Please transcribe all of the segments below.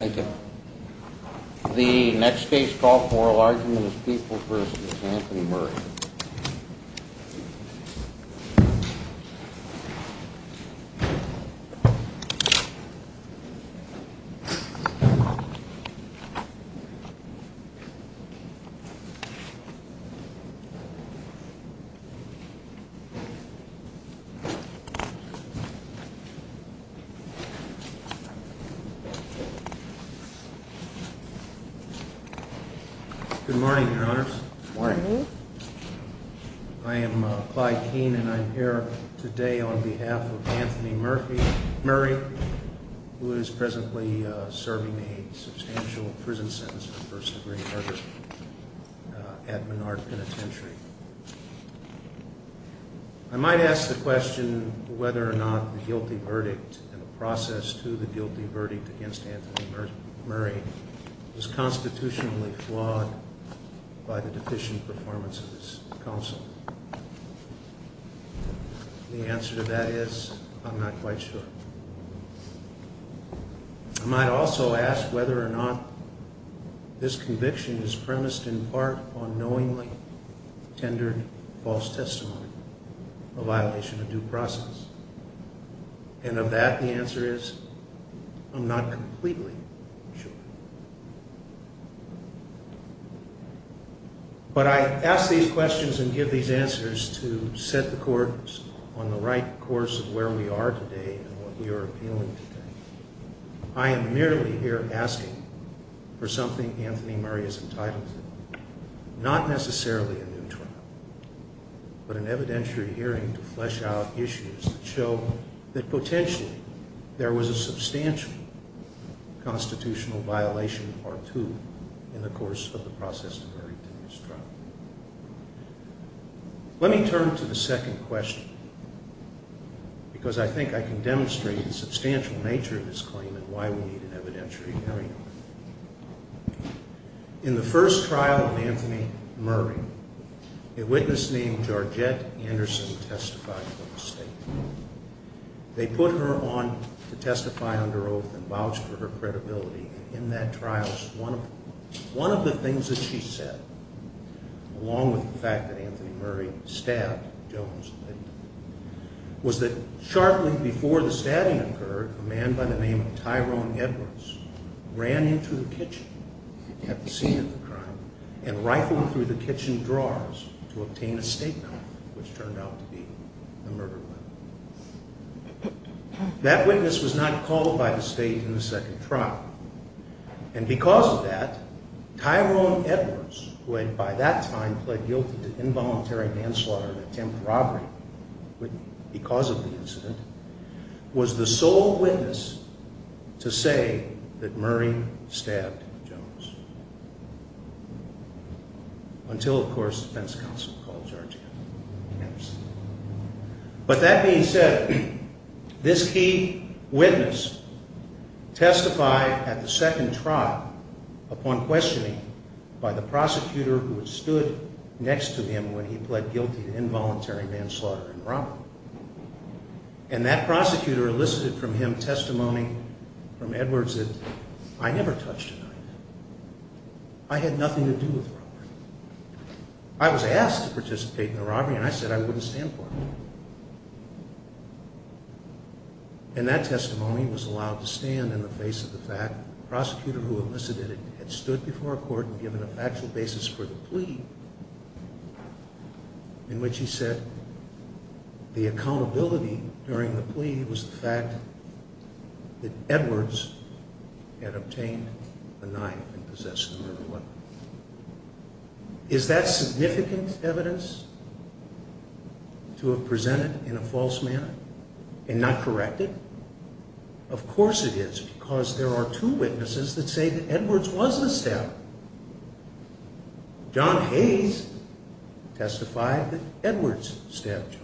Thank you. The next case for oral argument is People v. Anthony Murray. Good morning, Your Honors. I am Clyde Keene and I am here today on behalf of Anthony Murray, who is presently serving a substantial prison sentence for first degree murder at Menard Penitentiary. I might ask the question whether or not the guilty verdict and the process to the guilty verdict against Anthony Murray was constitutionally flawed by the deficient performance of this counsel. The answer to that is I'm not quite sure. I might also ask whether or not this conviction is premised in part on knowingly tendered false testimony, a violation of due process. And of that, the answer is I'm not completely sure. But I ask these questions and give these answers to set the course on the right course of where we are today and what we are appealing today. I am merely here asking for something Anthony Murray did not do in trial, but an evidentiary hearing to flesh out issues that show that potentially there was a substantial constitutional violation or two in the course of the process of Murray's trial. Let me turn to the second question because I think I can demonstrate the substantial nature of this claim and why we need an evidentiary hearing. In the first trial of Anthony Murray, a witness named Georgette Anderson testified to a mistake. They put her on to testify under oath and vouched for her credibility. In that trial, one of the things that she said, along with the fact that Anthony Murray stabbed Jones and Linden, was that sharply before the stabbing occurred, a man by the name of Tyrone Edwards ran into the kitchen at the scene of the crime and rifled through the kitchen drawers to obtain a statement which turned out to be a murder weapon. That witness was not called by the state in the second trial. And because of that, Tyrone Edwards, who had by that time pled guilty to involuntary manslaughter and attempted robbery because of the incident, was the sole witness to say that Murray stabbed Jones. Until, of course, the defense counsel called Georgette Anderson. But that being said, this key witness testified at the second trial upon questioning by the prosecutor who had stood next to him when he pled guilty to involuntary manslaughter and robbery. And that prosecutor elicited from him testimony from Edwards that I never touched a knife. I had nothing to do with robbery. I was asked to participate in the robbery and I said I wouldn't stand for it. And that testimony was allowed to stand in the face of the fact that the prosecutor who elicited it had stood before a court and given a factual basis for the plea in which he said the accountability during the plea was the fact that Edwards had obtained a knife and possessed the murder weapon. Is that significant evidence to have presented in a false manner and not corrected? Of course it is, because there are two witnesses that say that Edwards was the stabber. John Hayes testified that Edwards stabbed Jones.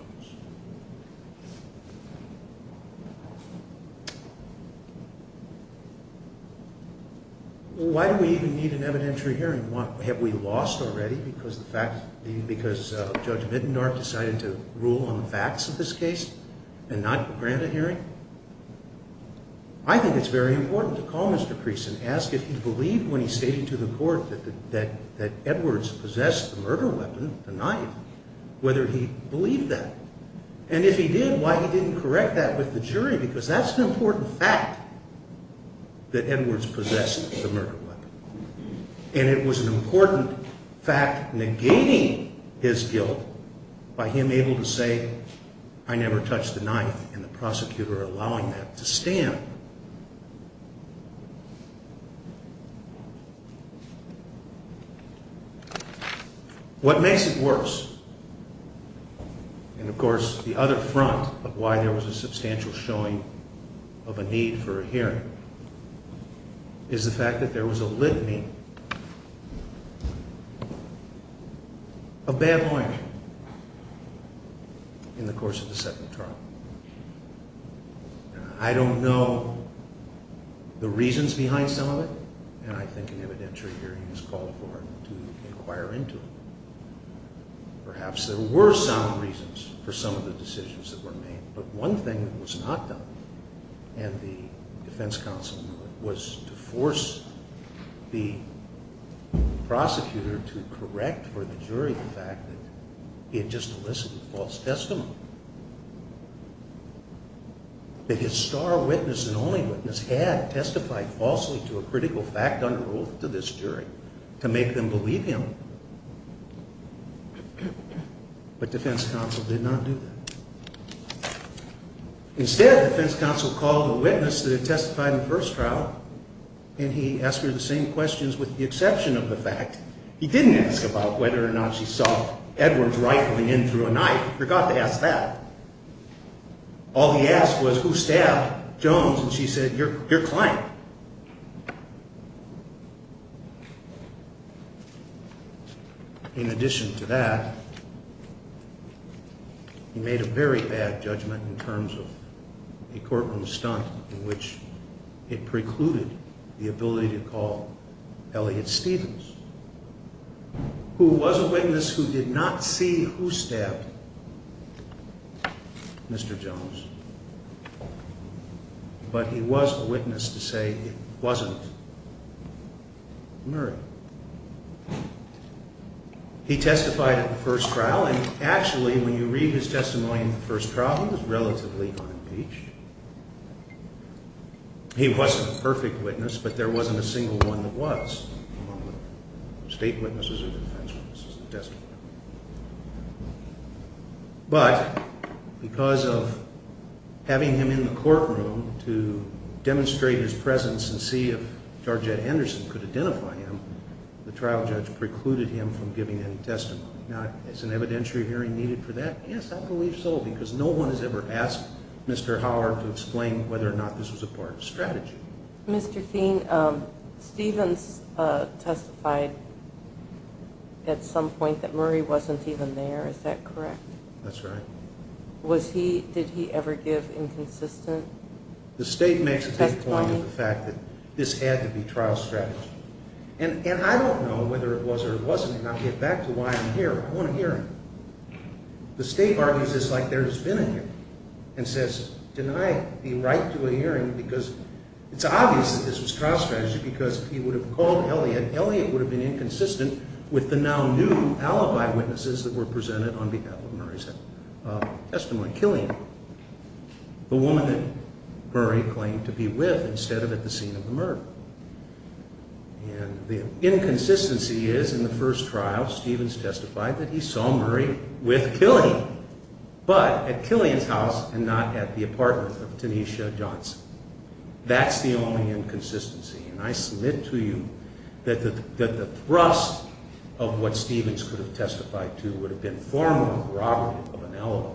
Why do we even need an evidentiary hearing? Have we lost already because Judge Mindendorf decided to rule on the facts of this case and not grant a hearing? I think it's very important to call Mr. Creason and ask if he believed when he stated to the court that Edwards possessed the murder weapon, the knife, whether he believed that. And if he did, why he didn't correct that with the jury because that's an important fact that Edwards possessed the murder weapon. And it was an important fact negating his guilt by him able to say I never touched the knife and the prosecutor allowing that to stand. What makes it worse, and of course the other front of why there was a substantial showing of a need for a hearing, is the fact that there was a litany of bad language in the course of the second trial. I don't know the reasons behind some of it, and I think an evidentiary hearing is called for to inquire into it. Perhaps there were some reasons for some of the decisions that were made, but one thing that was not done, and the defense counsel knew it, was to force the prosecutor to correct for the jury the fact that he had just elicited false testimony. That his star witness and only witness had testified falsely to a critical fact under oath to this jury to make them believe him. But defense counsel did not do that. Instead, defense counsel called the witness that had testified in the fact. He didn't ask about whether or not she saw Edwards rifling in through a knife. Forgot to ask that. All he asked was who stabbed Jones, and she said your client. In addition to that, he made a very bad judgment in terms of a courtroom stunt in which it precluded the ability to call Elliott Stevens, who was a witness who did not see who stabbed Mr. Jones, but he was a witness to say it wasn't Murray. He testified at the first trial, and actually when you read his testimony in the first trial, he was relatively on page. He wasn't a perfect witness, but there wasn't a single one that was among the state witnesses or defense witnesses that testified. But because of having him in the courtroom to demonstrate his presence and see if Jarjet Anderson could identify him, the trial judge precluded him from hearing. So I don't know whether or not this is an evidentiary hearing needed for that. Yes, I believe so because no one has ever asked Mr. Howell to explain whether or not this was a part of strategy. Mr. Feen, Stevens testified at some point that Murray wasn't even there. Is that correct? That's right. Did he ever give inconsistent testimony? The state makes a good point of the fact that this had to be trial strategy. And I don't know whether it was or wasn't. I'm going to get back to why I'm here. I want to hear him. The state argues it's like there's been a hearing and says deny the right to a hearing because it's obvious that this was trial strategy because he would have called Elliott. Elliott would have been inconsistent with the now new alibi witnesses that were presented on behalf of Murray's testimony, killing the woman that Murray claimed to be with Murray with Killian, but at Killian's house and not at the apartment of Tanisha Johnson. That's the only inconsistency. And I submit to you that the thrust of what Stevens could have testified to would have been far more corroborative of an alibi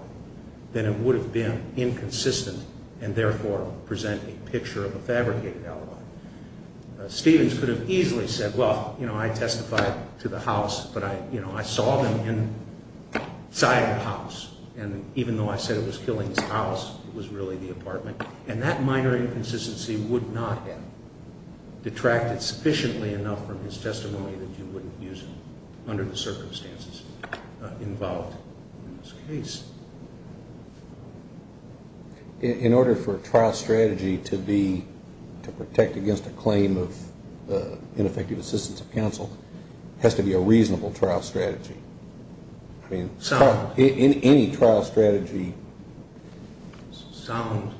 than it would have been inconsistent and therefore present a picture of a fabricated alibi. Stevens could have easily said, well, you know, I testified to the house, but I, you know, I saw them inside the house. And even though I said it was Killian's house, it was really the apartment. And that minor inconsistency would not have detracted sufficiently enough from his testimony that you wouldn't use it under the circumstances involved in this case. In order for a trial strategy to be, to protect against a claim of ineffective assistance of the defense counsel, there has to be a reasonable trial strategy. I mean, any trial strategy. Sound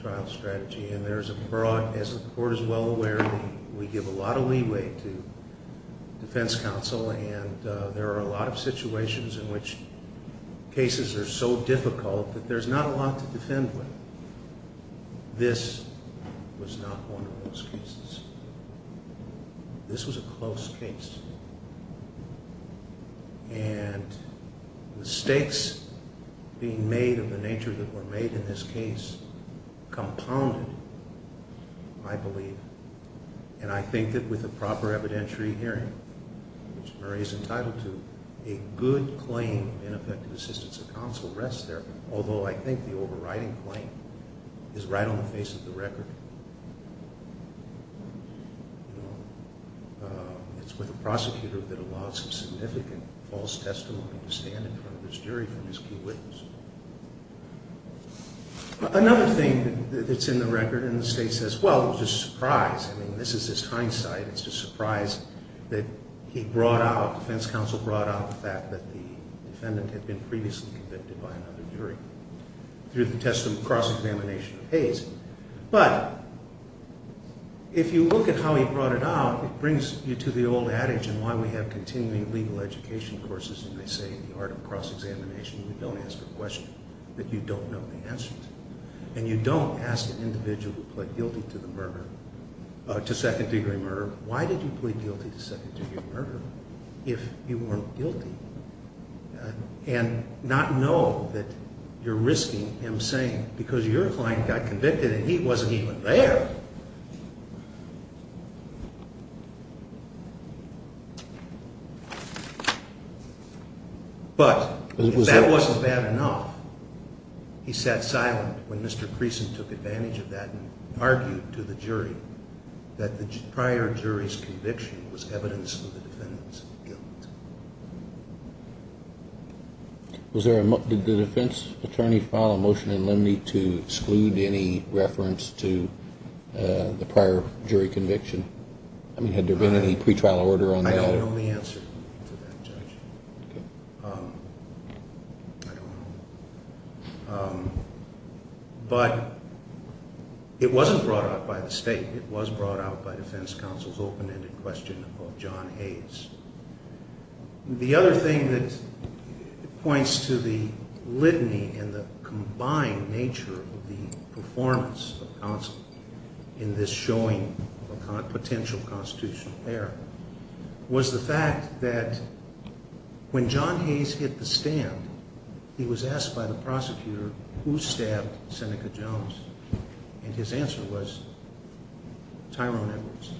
trial strategy. And there's a broad, as the court is well aware, we give a lot of leeway to defense counsel and there are a lot of And mistakes being made of the nature that were made in this case compounded, I believe, and I think that with a proper evidentiary hearing, which Murray is entitled to, a good claim of ineffective assistance of counsel rests there, although I think the overriding claim is right on the false testimony to stand in front of this jury from his key witness. Another thing that's in the record in the state says, well, it was just a surprise. I mean, this is just hindsight. It's just a surprise that he brought out, defense counsel brought out the fact that the defendant had been previously convicted by another jury through the cross-examination of Hayes. But if you look at how he brought it out, it brings you to the old way of continuing legal education courses and they say in the art of cross-examination, you don't ask a question that you don't know the answer to. And you don't ask an individual who pled guilty to the murder, to second degree murder, why did you plead guilty to second degree murder if you weren't guilty? And not know that you're risking him saying, because your client got convicted and he wasn't even there. But if that wasn't bad enough, he sat silent when Mr. Creason took advantage of that and argued to the jury that the prior jury's conviction was evidence of the defendant's guilt. Did the defense attorney file a motion in limine to exclude any reference to the prior jury conviction? I mean, had there been any pre-trial order on that? I can only answer to that, Judge. I don't know. But it wasn't brought out by the state. It was brought out by defense counsel's open-ended question of John Hayes. The other thing that points to the litany and the combined nature of the performance of counsel in this showing of a potential constitutional error was the fact that when John Hayes hit the stand, he was asked by the prosecutor who stabbed Seneca Jones. And his answer was Tyrone Edwards.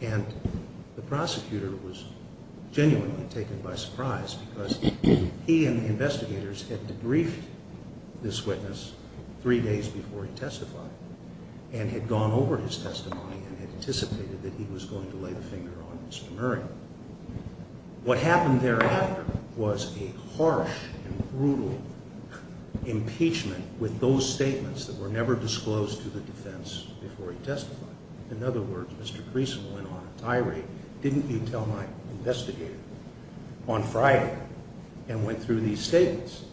And the prosecutor was genuinely taken by surprise because he and the investigators had debriefed this witness three days before he testified and had gone over his testimony and had anticipated that he was going to lay the finger on Mr. Murray. What happened thereafter was a harsh and brutal impeachment with those statements that were never disclosed to the defense before he testified. In other words, Mr. Creason went on a tirade. Didn't you tell my investigator on Friday and went through these statements?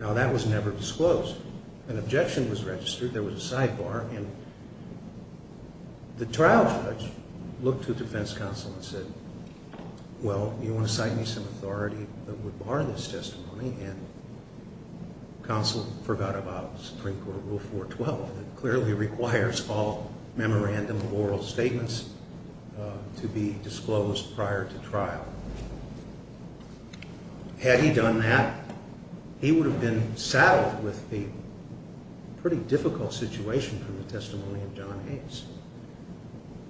Now, that was never disclosed. An objection was registered. There was a sidebar. And the trial judge looked to defense counsel and said, well, you want to cite me some authority that would bar this testimony? And counsel forgot about Supreme Court Rule 412 that clearly requires all memorandum of oral statements to be disclosed prior to trial. Had he done that, he would have been saddled with a pretty difficult situation from the testimony of John Hayes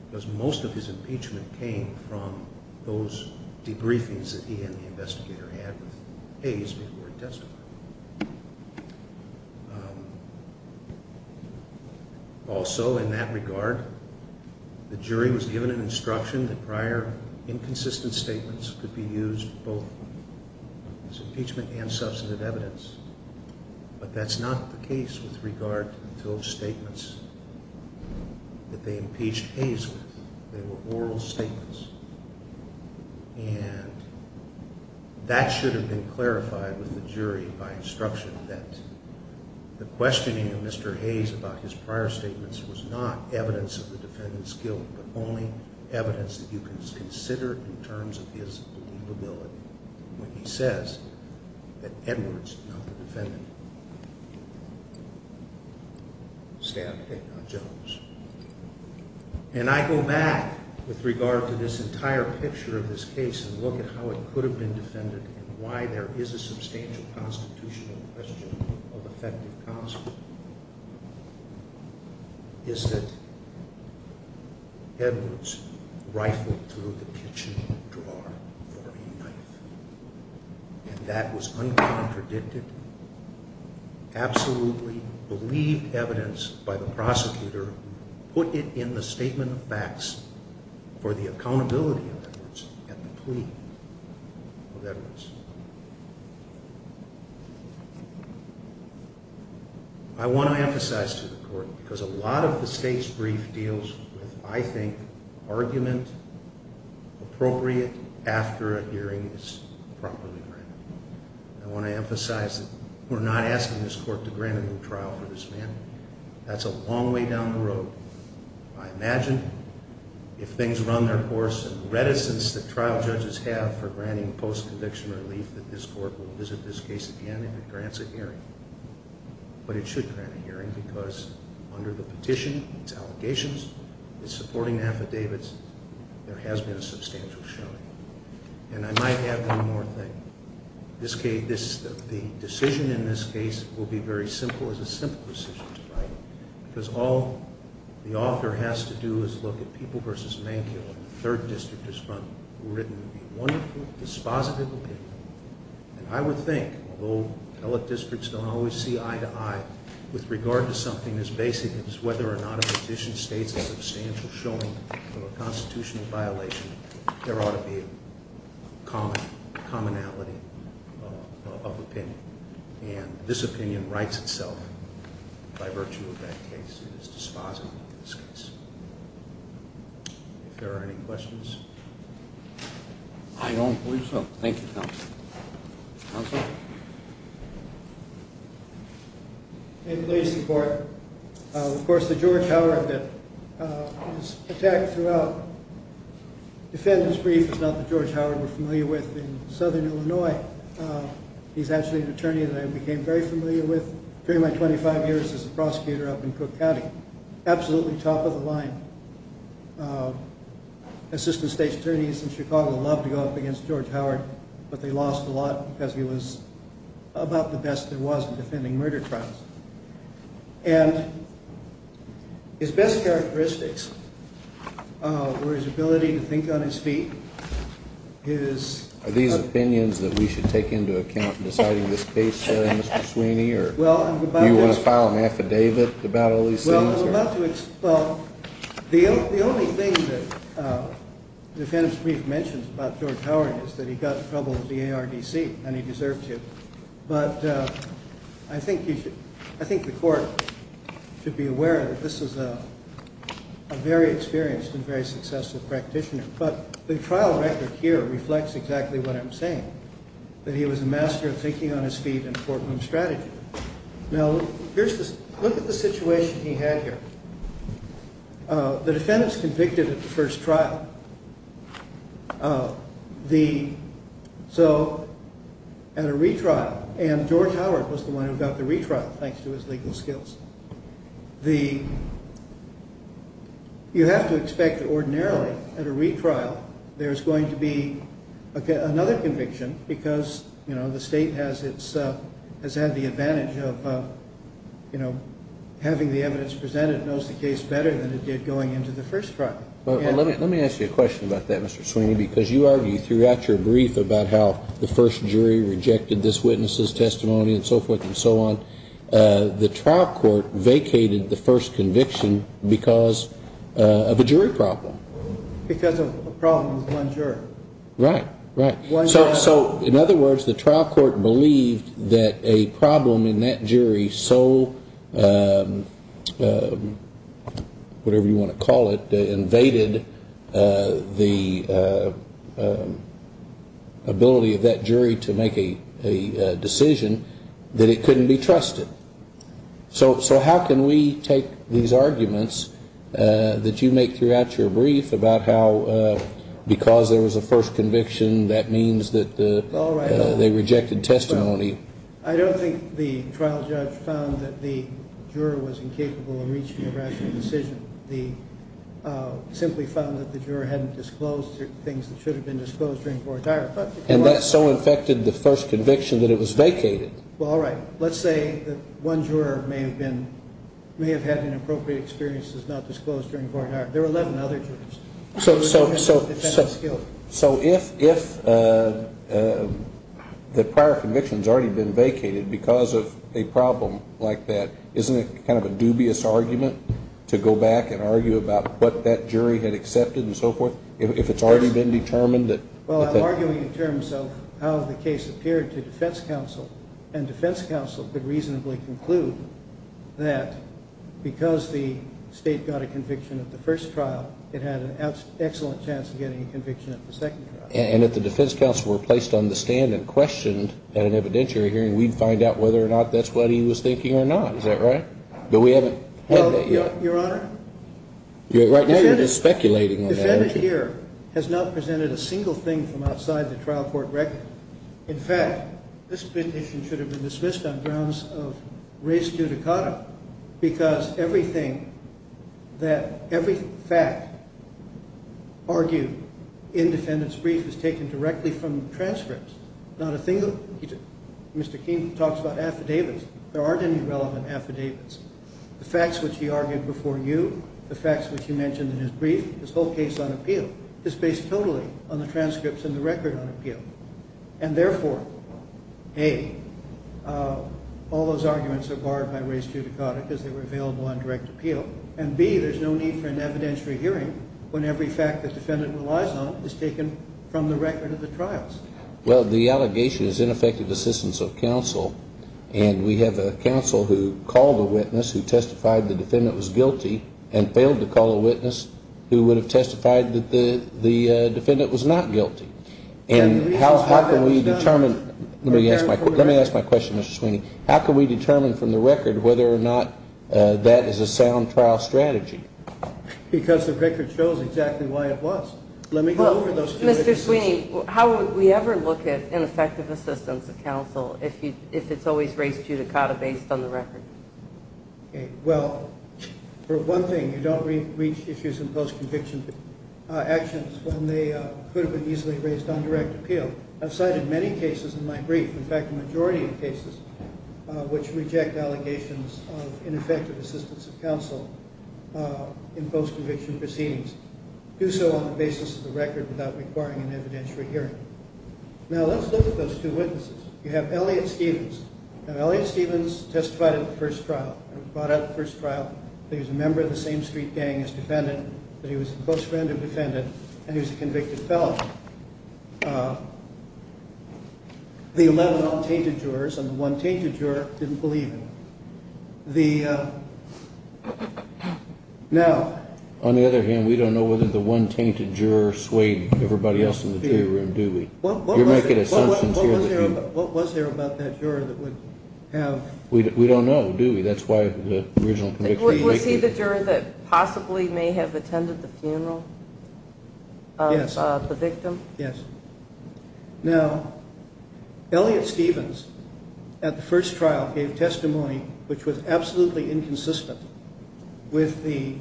because most of his impeachment came from those debriefings that he and the investigator had with Hayes before he testified. Also, in that regard, the jury was given an instruction that prior inconsistent statements could be used both as impeachment and substantive evidence. But that's not the case with regard to the filled statements that they impeached Hayes with. They were oral statements. And that should have been clarified with the jury by instruction that the questioning of Mr. Hayes about his prior statements was not evidence of the defendant's guilt, but only evidence that you can consider in terms of his believability when he says that Edwards, not the defendant, stabbed Kaycon Jones. And I go back with regard to this entire picture of this case and look at how it could have been defended and why there is a substantial constitutional question of effective counsel. The answer is that Edwards rifled through the kitchen drawer for a knife. And that was uncontradicted, absolutely believed evidence by the prosecutor, put it in the statement of facts for the accountability of Edwards at the plea of Edwards. I want to emphasize to the court, because a lot of the state's brief deals with, I think, argument appropriate after a hearing is properly granted. I want to emphasize that we're not asking this court to grant a new trial for this man. That's a long way down the road. I imagine if things run their course and reticence that trial judges have for granting post-conviction relief that this court will visit this case again if it grants a hearing. But it should grant a hearing because under the petition, it's allegations, it's supporting affidavits, there has been a substantial showing. And I might add one more thing. The decision in this case will be very simple. It's a simple decision to write. Because all the author has to do is look at People v. Mankiewicz, the third district district who written a wonderful, dispositive opinion. And I would think, although appellate districts don't always see eye to eye, with regard to something as basic as whether or not a petition states a substantial showing of a constitutional violation, there ought to be commonality of opinion. And this opinion writes itself by virtue of that case. It is dispositive of this case. If there are any questions? I don't believe so. Thank you, counsel. Counsel? May it please the court. Of course, the George Howard bit was attacked throughout. Defendant's brief is not the George Howard we're familiar with in southern Illinois. He's actually an attorney that I became very familiar with during my 25 years as a prosecutor up in Cook County. Absolutely top of the line. Assistant state attorneys in Chicago love to go up against George Howard, but they lost a lot because he was about the best there was in defending murder trials. And his best characteristics were his ability to think on his feet. Are these opinions that we should take into account in deciding this case, Mr. Sweeney? You want to file an affidavit about all these things? Well, the only thing that the defendant's brief mentions about George Howard is that he got in trouble with the ARDC, and he deserved to. But I think the court should be aware that this is a very experienced and very successful practitioner. But the trial record here reflects exactly what I'm saying, that he was a master of thinking on his feet in courtroom strategy. Now, here's this. Look at the situation he had here. The defendant's convicted at the first trial. So at a retrial, and George Howard was the one who got the retrial, thanks to his legal skills. You have to expect that ordinarily at a retrial, there's going to be another conviction because, you know, the state has had the advantage of, you know, having the evidence presented, knows the case better than it did going into the first trial. Well, let me ask you a question about that, Mr. Sweeney, because you argue throughout your brief about how the first jury rejected this witness's testimony and so forth and so on. The trial court vacated the first conviction because of a jury problem. Because of a problem with one jury. Right, right. One jury. In other words, the trial court believed that a problem in that jury so, whatever you want to call it, invaded the ability of that jury to make a decision that it couldn't be trusted. So how can we take these arguments that you make throughout your brief about how because there was a first conviction, that means that the jury is not going to be trusted? They rejected testimony. I don't think the trial judge found that the juror was incapable of reaching a rational decision. They simply found that the juror hadn't disclosed things that should have been disclosed during court. And that so infected the first conviction that it was vacated. Well, all right. Let's say that one juror may have been, may have had inappropriate experiences not disclosed during court. There were 11 other jurors. So if the prior conviction has already been vacated because of a problem like that, isn't it kind of a dubious argument to go back and argue about what that jury had accepted and so forth? If it's already been determined that. Well, I'm arguing in terms of how the case appeared to defense counsel. And defense counsel could reasonably conclude that because the state got a conviction at the first trial, it had an excellent chance of getting a conviction at the second trial. And if the defense counsel were placed on the stand and questioned at an evidentiary hearing, we'd find out whether or not that's what he was thinking or not. Is that right? But we haven't had that yet. Your Honor? Right now you're just speculating on that. Defendant here has not presented a single thing from outside the trial court record. In fact, this petition should have been dismissed on grounds of res judicata because everything that every fact argued in defendant's brief is taken directly from transcripts. Not a single thing. Mr. King talks about affidavits. There aren't any relevant affidavits. The facts which he argued before you, the facts which he mentioned in his brief, his whole case on appeal, is based totally on the transcripts and the record on appeal. And therefore, A, all those arguments are barred by res judicata because they were available on direct appeal. And, B, there's no need for an evidentiary hearing when every fact the defendant relies on is taken from the record of the trials. Well, the allegation is ineffective assistance of counsel, and we have a counsel who called a witness who testified the defendant was guilty and failed to call a witness who would have testified that the defendant was not guilty. And how can we determine? Let me ask my question, Mr. Sweeney. How can we determine from the record whether or not that is a sound trial strategy? Because the record shows exactly why it was. Let me go over those two differences. Mr. Sweeney, how would we ever look at ineffective assistance of counsel if it's always res judicata based on the record? Well, for one thing, you don't reach issues in post-conviction actions when they could have been easily raised on direct appeal. I've cited many cases in my brief, in fact, the majority of cases, which reject allegations of ineffective assistance of counsel in post-conviction proceedings. Do so on the basis of the record without requiring an evidentiary hearing. Now, let's look at those two witnesses. You have Elliot Stephens. Now, Elliot Stephens testified at the first trial. He was brought out at the first trial. He was a member of the same street gang as the defendant, but he was a close friend of the defendant, and he was a convicted felon. The 11 all-tainted jurors and the one tainted juror didn't believe him. Now— On the other hand, we don't know whether the one tainted juror swayed everybody else in the jury room, do we? You're making assumptions here. What was there about that juror that would have— We don't know, do we? That's why the original conviction— Was he the juror that possibly may have attended the funeral of the victim? Yes. Now, Elliot Stephens at the first trial gave testimony which was absolutely inconsistent with the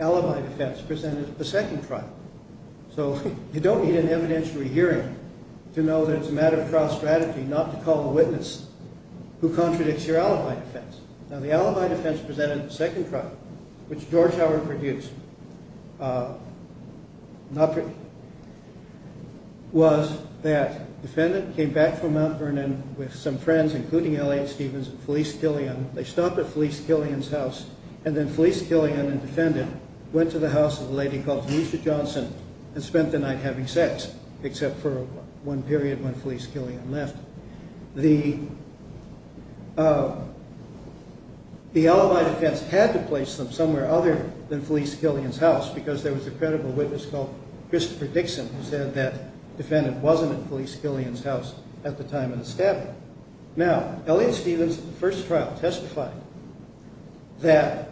alibi defense presented at the second trial. So you don't need an evidentiary hearing to know that it's a matter of trial strategy not to call the witness who contradicts your alibi defense. Now, the alibi defense presented at the second trial, which George Howard produced, was that the defendant came back from Mount Vernon with some friends, including Elliot Stephens and Felice Killian. They stopped at Felice Killian's house, and then Felice Killian and the defendant went to the house of a lady called Lisa Johnson and spent the night having sex, except for one period when Felice Killian left. The alibi defense had to place them somewhere other than Felice Killian's house, because there was a credible witness called Christopher Dixon who said that the defendant wasn't at Felice Killian's house at the time of the stabbing. Now, Elliot Stephens at the first trial testified that,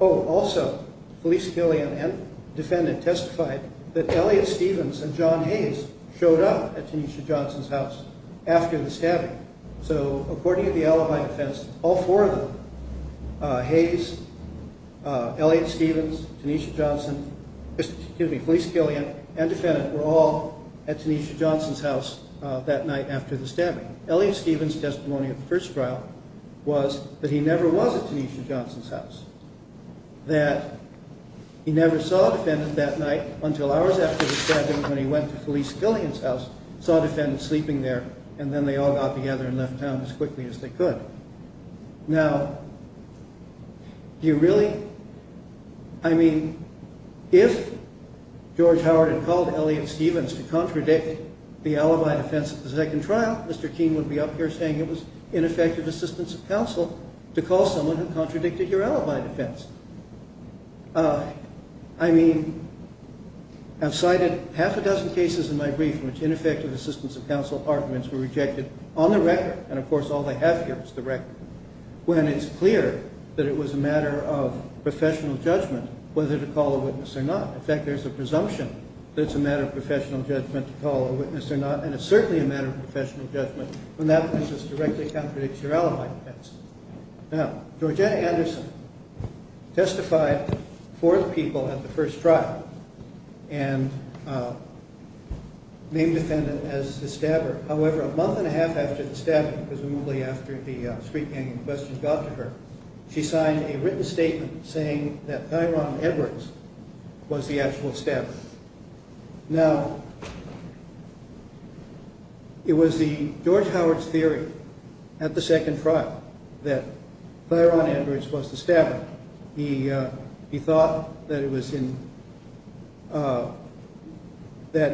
oh, also Felice Killian and the defendant testified that Elliot Stephens and John Hayes showed up at Tanisha Johnson's house after the stabbing. So according to the alibi defense, all four of them, Hayes, Elliot Stephens, Felice Killian, and the defendant were all at Tanisha Johnson's house that night after the stabbing. Elliot Stephens' testimony at the first trial was that he never was at Tanisha Johnson's house, that he never saw a defendant that night until hours after the stabbing when he went to Felice Killian's house, saw a defendant sleeping there, and then they all got together and left town as quickly as they could. Now, do you really? I mean, if George Howard had called Elliot Stephens to contradict the alibi defense at the second trial, Mr. Keene would be up here saying it was ineffective assistance of counsel to call someone who contradicted your alibi defense. I mean, I've cited half a dozen cases in my brief in which ineffective assistance of counsel arguments were rejected on the record, and of course all they have here is the record, when it's clear that it was a matter of professional judgment whether to call a witness or not. In fact, there's a presumption that it's a matter of professional judgment to call a witness or not, and it's certainly a matter of professional judgment when that witness directly contradicts your alibi defense. Now, Georgina Anderson testified for the people at the first trial and named the defendant as the stabber. However, a month and a half after the stabbing, presumably after the street gang in question got to her, she signed a written statement saying that Thyron Edwards was the actual stabber. Now, it was George Howard's theory at the second trial that Thyron Edwards was the stabber. He thought that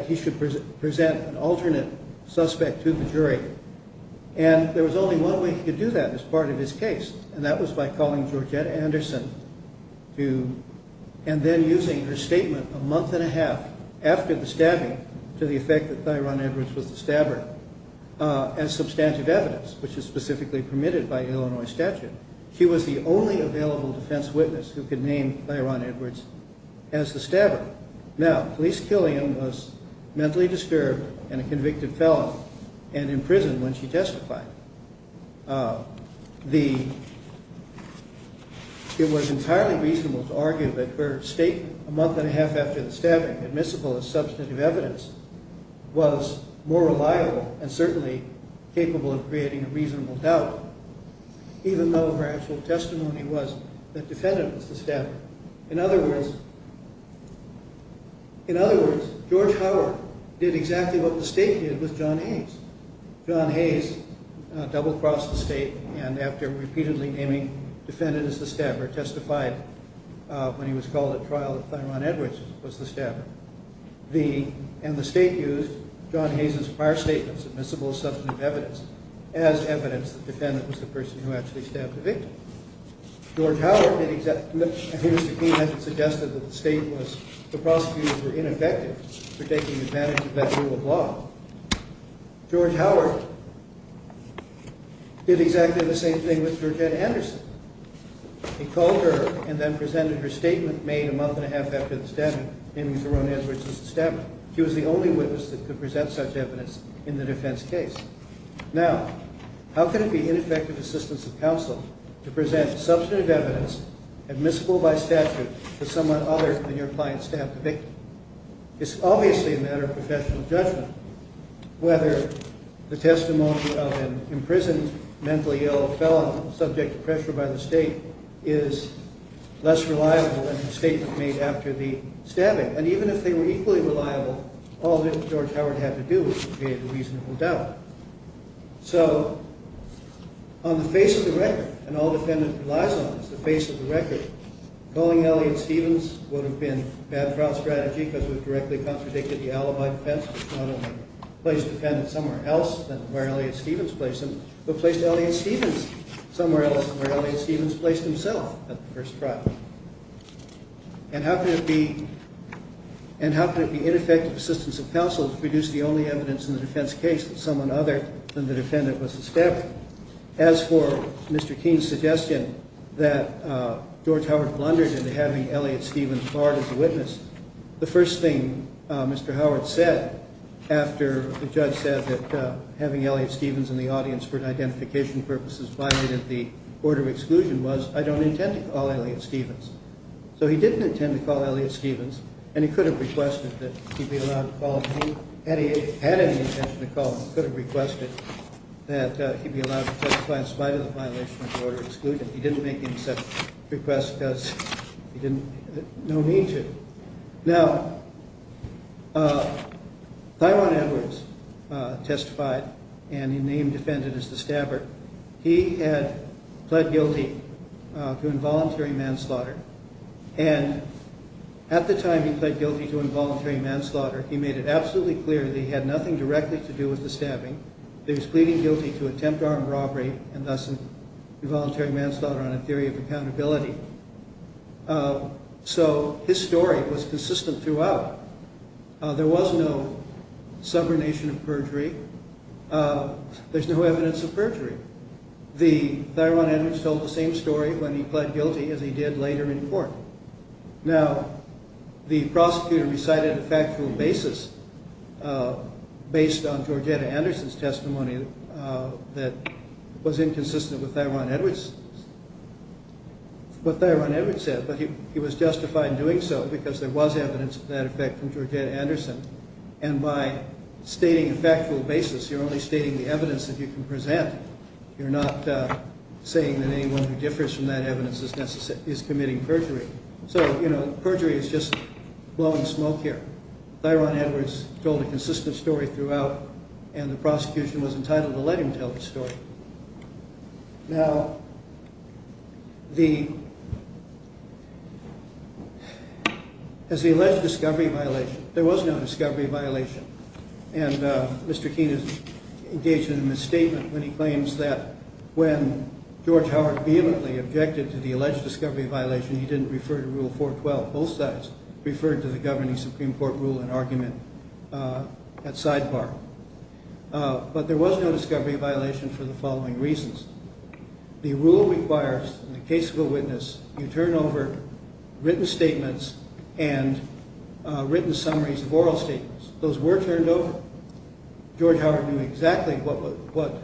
he should present an alternate suspect to the jury, and there was only one way he could do that as part of his case, and that was by calling Georgina Anderson and then using her statement a month and a half after the stabbing to the effect that Thyron Edwards was the stabber as substantive evidence, which is specifically permitted by Illinois statute. She was the only available defense witness who could name Thyron Edwards as the stabber. Now, Felice Killian was mentally disturbed and a convicted felon and in prison when she testified. It was entirely reasonable to argue that her statement a month and a half after the stabbing, admissible as substantive evidence, was more reliable and certainly capable of creating a reasonable doubt, even though her actual testimony was that the defendant was the stabber. In other words, George Howard did exactly what the state did with John Hayes. John Hayes double-crossed the state and, after repeatedly naming the defendant as the stabber, testified when he was called at trial that Thyron Edwards was the stabber, and the state used John Hayes' prior statements, admissible as substantive evidence, as evidence that the defendant was the person who actually stabbed the victim. George Howard did exactly that. Here's the key message suggested that the prosecutors were ineffective for taking advantage of that rule of law. George Howard did exactly the same thing with Georgina Anderson. He called her and then presented her statement made a month and a half after the stabbing, naming Thyron Edwards as the stabber. She was the only witness that could present such evidence in the defense case. Now, how can it be ineffective assistance of counsel to present substantive evidence, admissible by statute, to someone other than your client's stabbed victim? It's obviously a matter of professional judgment whether the testimony of an imprisoned mentally ill felon subject to pressure by the state is less reliable than the statement made after the stabbing. And even if they were equally reliable, all that George Howard had to do was create a reasonable doubt. So, on the face of the record, and all the defendant relies on is the face of the record, calling Elliott Stevens would have been a bad trial strategy because it would have directly contradicted the alibi defense not only placed the defendant somewhere else than where Elliott Stevens placed him, but placed Elliott Stevens somewhere else than where Elliott Stevens placed himself at the first trial. And how can it be ineffective assistance of counsel to produce the only evidence in the defense case that someone other than the defendant was the stabber? As for Mr. Keene's suggestion that George Howard blundered into having Elliott Stevens barred as a witness, the first thing Mr. Howard said after the judge said that having Elliott Stevens in the audience for identification purposes violated the order of exclusion was, I don't intend to call Elliott Stevens. So he didn't intend to call Elliott Stevens, and he could have requested that he be allowed to call him. Had he had any intention to call him, he could have requested that he be allowed to testify in spite of the violation of the order of exclusion. He didn't make any such request because he didn't know mean to. Now, Thyrone Edwards testified, and he named the defendant as the stabber. He had pled guilty to involuntary manslaughter, and at the time he pled guilty to involuntary manslaughter, he made it absolutely clear that he had nothing directly to do with the stabbing. He was pleading guilty to attempt armed robbery and thus involuntary manslaughter on a theory of accountability. So his story was consistent throughout. There was no subordination of perjury. There's no evidence of perjury. Thyrone Edwards told the same story when he pled guilty as he did later in court. Now, the prosecutor recited a factual basis based on Georgetta Anderson's testimony that was inconsistent with what Thyrone Edwards said, but he was justified in doing so because there was evidence of that effect from Georgetta Anderson. And by stating a factual basis, you're only stating the evidence that you can present. You're not saying that anyone who differs from that evidence is committing perjury. So, you know, perjury is just blowing smoke here. Thyrone Edwards told a consistent story throughout, and the prosecution was entitled to let him tell the story. Now, as he alleged discovery violation, there was no discovery violation, and Mr. Keene is engaged in a misstatement when he claims that when George Howard vehemently objected to the alleged discovery violation, he didn't refer to Rule 412. Both sides referred to the governing Supreme Court rule and argument at sidebar. But there was no discovery violation for the following reasons. The rule requires, in the case of a witness, you turn over written statements and written summaries of oral statements. Those were turned over. George Howard knew exactly what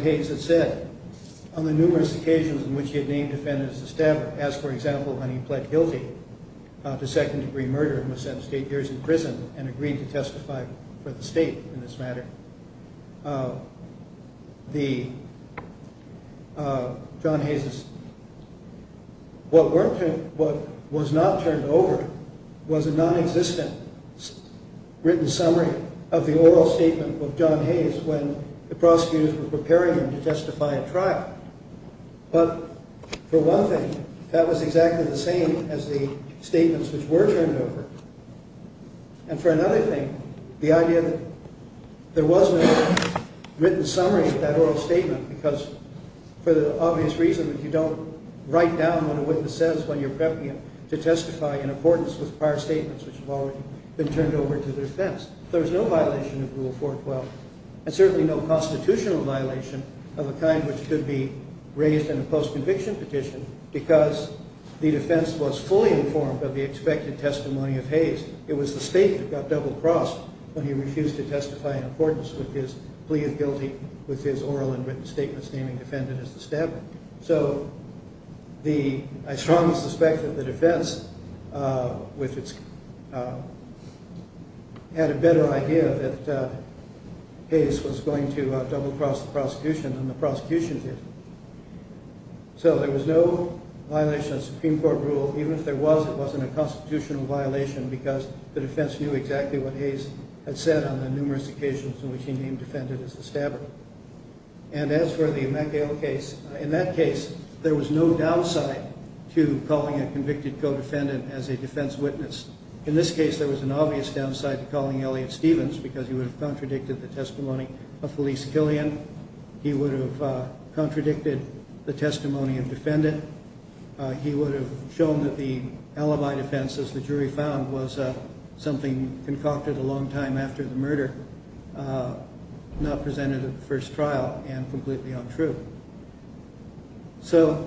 Hayes had said on the numerous occasions in which he had named defendants as stabbers, as, for example, when he pled guilty to second-degree murder and was sentenced to eight years in prison and agreed to testify for the state in this matter. What was not turned over was a non-existent written summary of the oral statement of John Hayes when the prosecutors were preparing him to testify at trial. But for one thing, that was exactly the same as the statements which were turned over. And for another thing, the idea that there was no written summary of that oral statement because for the obvious reason that you don't write down what a witness says when you're prepping him to testify in accordance with prior statements which have already been turned over to the defense. There was no violation of Rule 412 and certainly no constitutional violation of a kind which could be raised in a post-conviction petition because the defense was fully informed of the expected testimony of Hayes. It was the state that got double-crossed when he refused to testify in accordance with his plea of guilty with his oral and written statements naming the defendant as the stabber. So I strongly suspect that the defense had a better idea that Hayes was going to double-cross the prosecution than the prosecution did. So there was no violation of Supreme Court rule. Even if there was, it wasn't a constitutional violation because the defense knew exactly what Hayes had said on the numerous occasions in which he named the defendant as the stabber. And as for the MacGill case, in that case, there was no downside to calling a convicted co-defendant as a defense witness. In this case, there was an obvious downside to calling Elliott Stevens because he would have contradicted the testimony of Felice Killian. He would have contradicted the testimony of the defendant. He would have shown that the alibi defense, as the jury found, was something concocted a long time after the murder, not presented at the first trial, and completely untrue. So,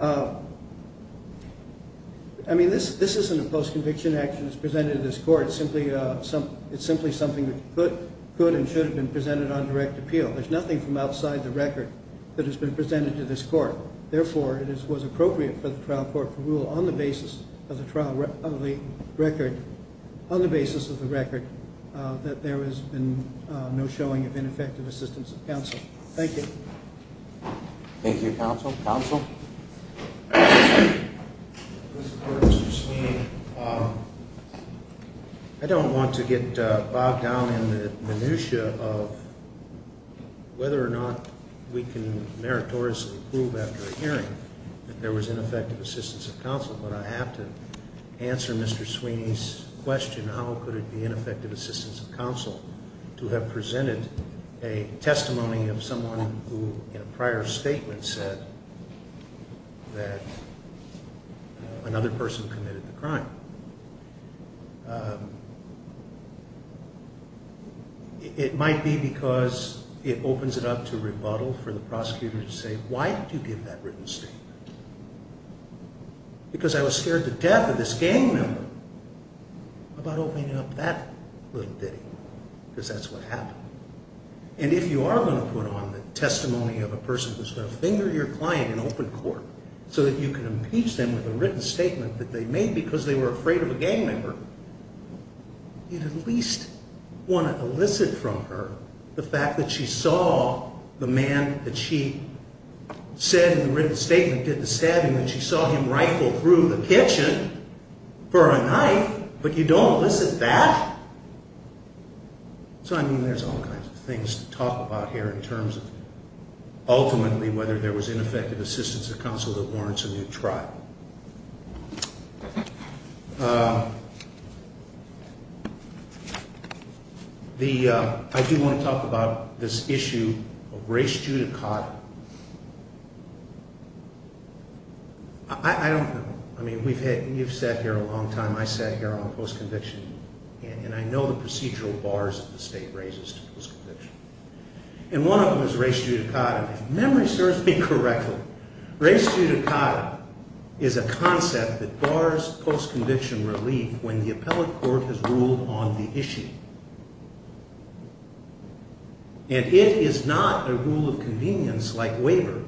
I mean, this isn't a post-conviction action that's presented at this court. It's simply something that could and should have been presented on direct appeal. There's nothing from outside the record that has been presented to this court. Therefore, it was appropriate for the trial court to rule on the basis of the trial record, on the basis of the record, that there has been no showing of ineffective assistance of counsel. Thank you, counsel. Counsel? Mr. Sweeney, I don't want to get bogged down in the minutia of whether or not we can meritoriously prove after a hearing that there was ineffective assistance of counsel, but I have to answer Mr. Sweeney's question, how could it be ineffective assistance of counsel to have presented a testimony of someone who, in a prior statement, said that another person committed the crime? It might be because it opens it up to rebuttal for the prosecutor to say, why did you give that written statement? Because I was scared to death of this gang member about opening up that little bitty, because that's what happened. And if you are going to put on the testimony of a person who's going to finger your client in open court so that you can impeach them with a written statement that they made because they were afraid of a gang member, you'd at least want to elicit from her the fact that she saw the man that she said in the written statement did the stabbing, that she saw him rifle through the kitchen for a knife, but you don't elicit that? So, I mean, there's all kinds of things to talk about here in terms of, ultimately, whether there was ineffective assistance of counsel that warrants a new trial. I do want to talk about this issue of Grace Judicata. I don't know. I mean, you've sat here a long time, I sat here on post-conviction, and I know the procedural bars that the state raises to post-conviction. And one of them is Grace Judicata. If memory serves me correctly, Grace Judicata is a concept that bars post-conviction relief when the appellate court has ruled on the issue. And it is not a rule of convenience like waiver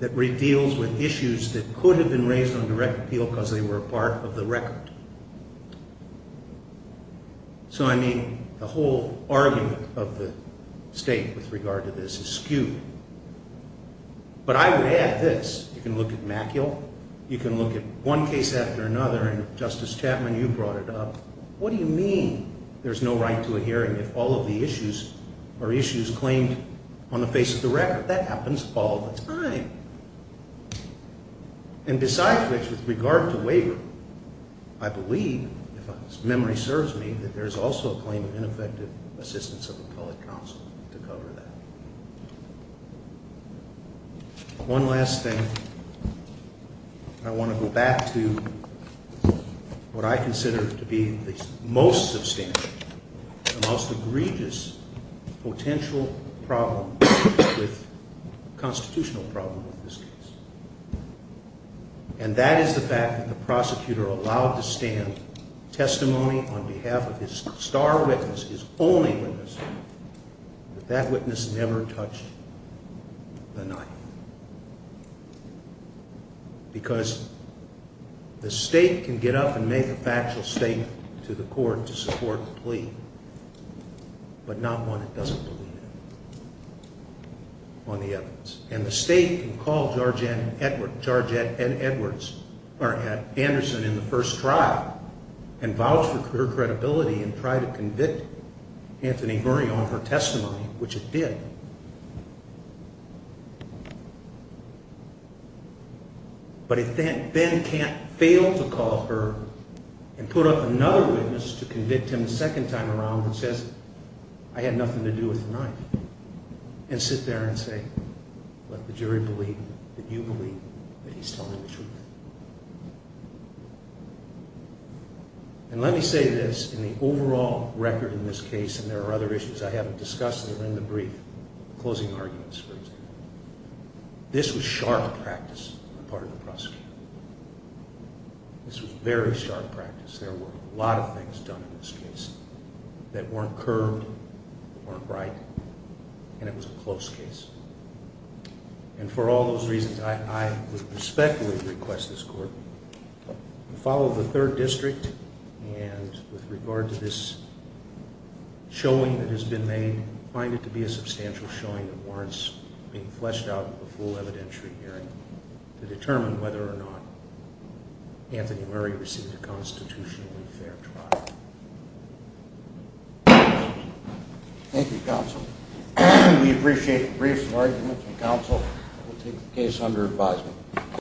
that deals with issues that could have been raised on direct appeal because they were part of the record. So, I mean, the whole argument of the state with regard to this is skewed. But I would add this, you can look at Maciel, you can look at one case after another, and Justice Chapman, you brought it up, what do you mean there's no right to a hearing if all of the issues are issues claimed on the face of the record? That happens all the time. And besides this, with regard to waiver, I believe, if memory serves me, that there's also a claim of ineffective assistance of appellate counsel to cover that. One last thing, and I want to go back to what I consider to be the most substantial, the most egregious potential problem with, constitutional problem with this case. And that is the fact that the prosecutor allowed to stand testimony on behalf of his star witness, his only witness, but that witness never touched the knife. Because the state can get up and make a factual statement to the court to support the plea, but not one that doesn't believe it, on the evidence. And the state can call George N. Edwards, or Anderson, in the first trial and vouch for her credibility and try to convict Anthony Murray on her testimony, which it did. But it then can't fail to call her and put up another witness to convict him the second time around that says, I had nothing to do with the knife. And sit there and say, let the jury believe that you believe that he's telling the truth. And let me say this, in the overall record in this case, and there are other issues I haven't discussed that are in the brief, closing arguments, for example. This was sharp practice on the part of the prosecutor. This was very sharp practice. There were a lot of things done in this case that weren't curved, weren't right, and it was a close case. And for all those reasons, I would respectfully request this court to follow the third district and with regard to this showing that has been made, find it to be a substantial showing that warrants being fleshed out in the full evidentiary hearing to determine whether or not Anthony Murray received a constitutionally fair trial. Thank you, counsel. We appreciate the briefs and arguments, and counsel will take the case under advisement.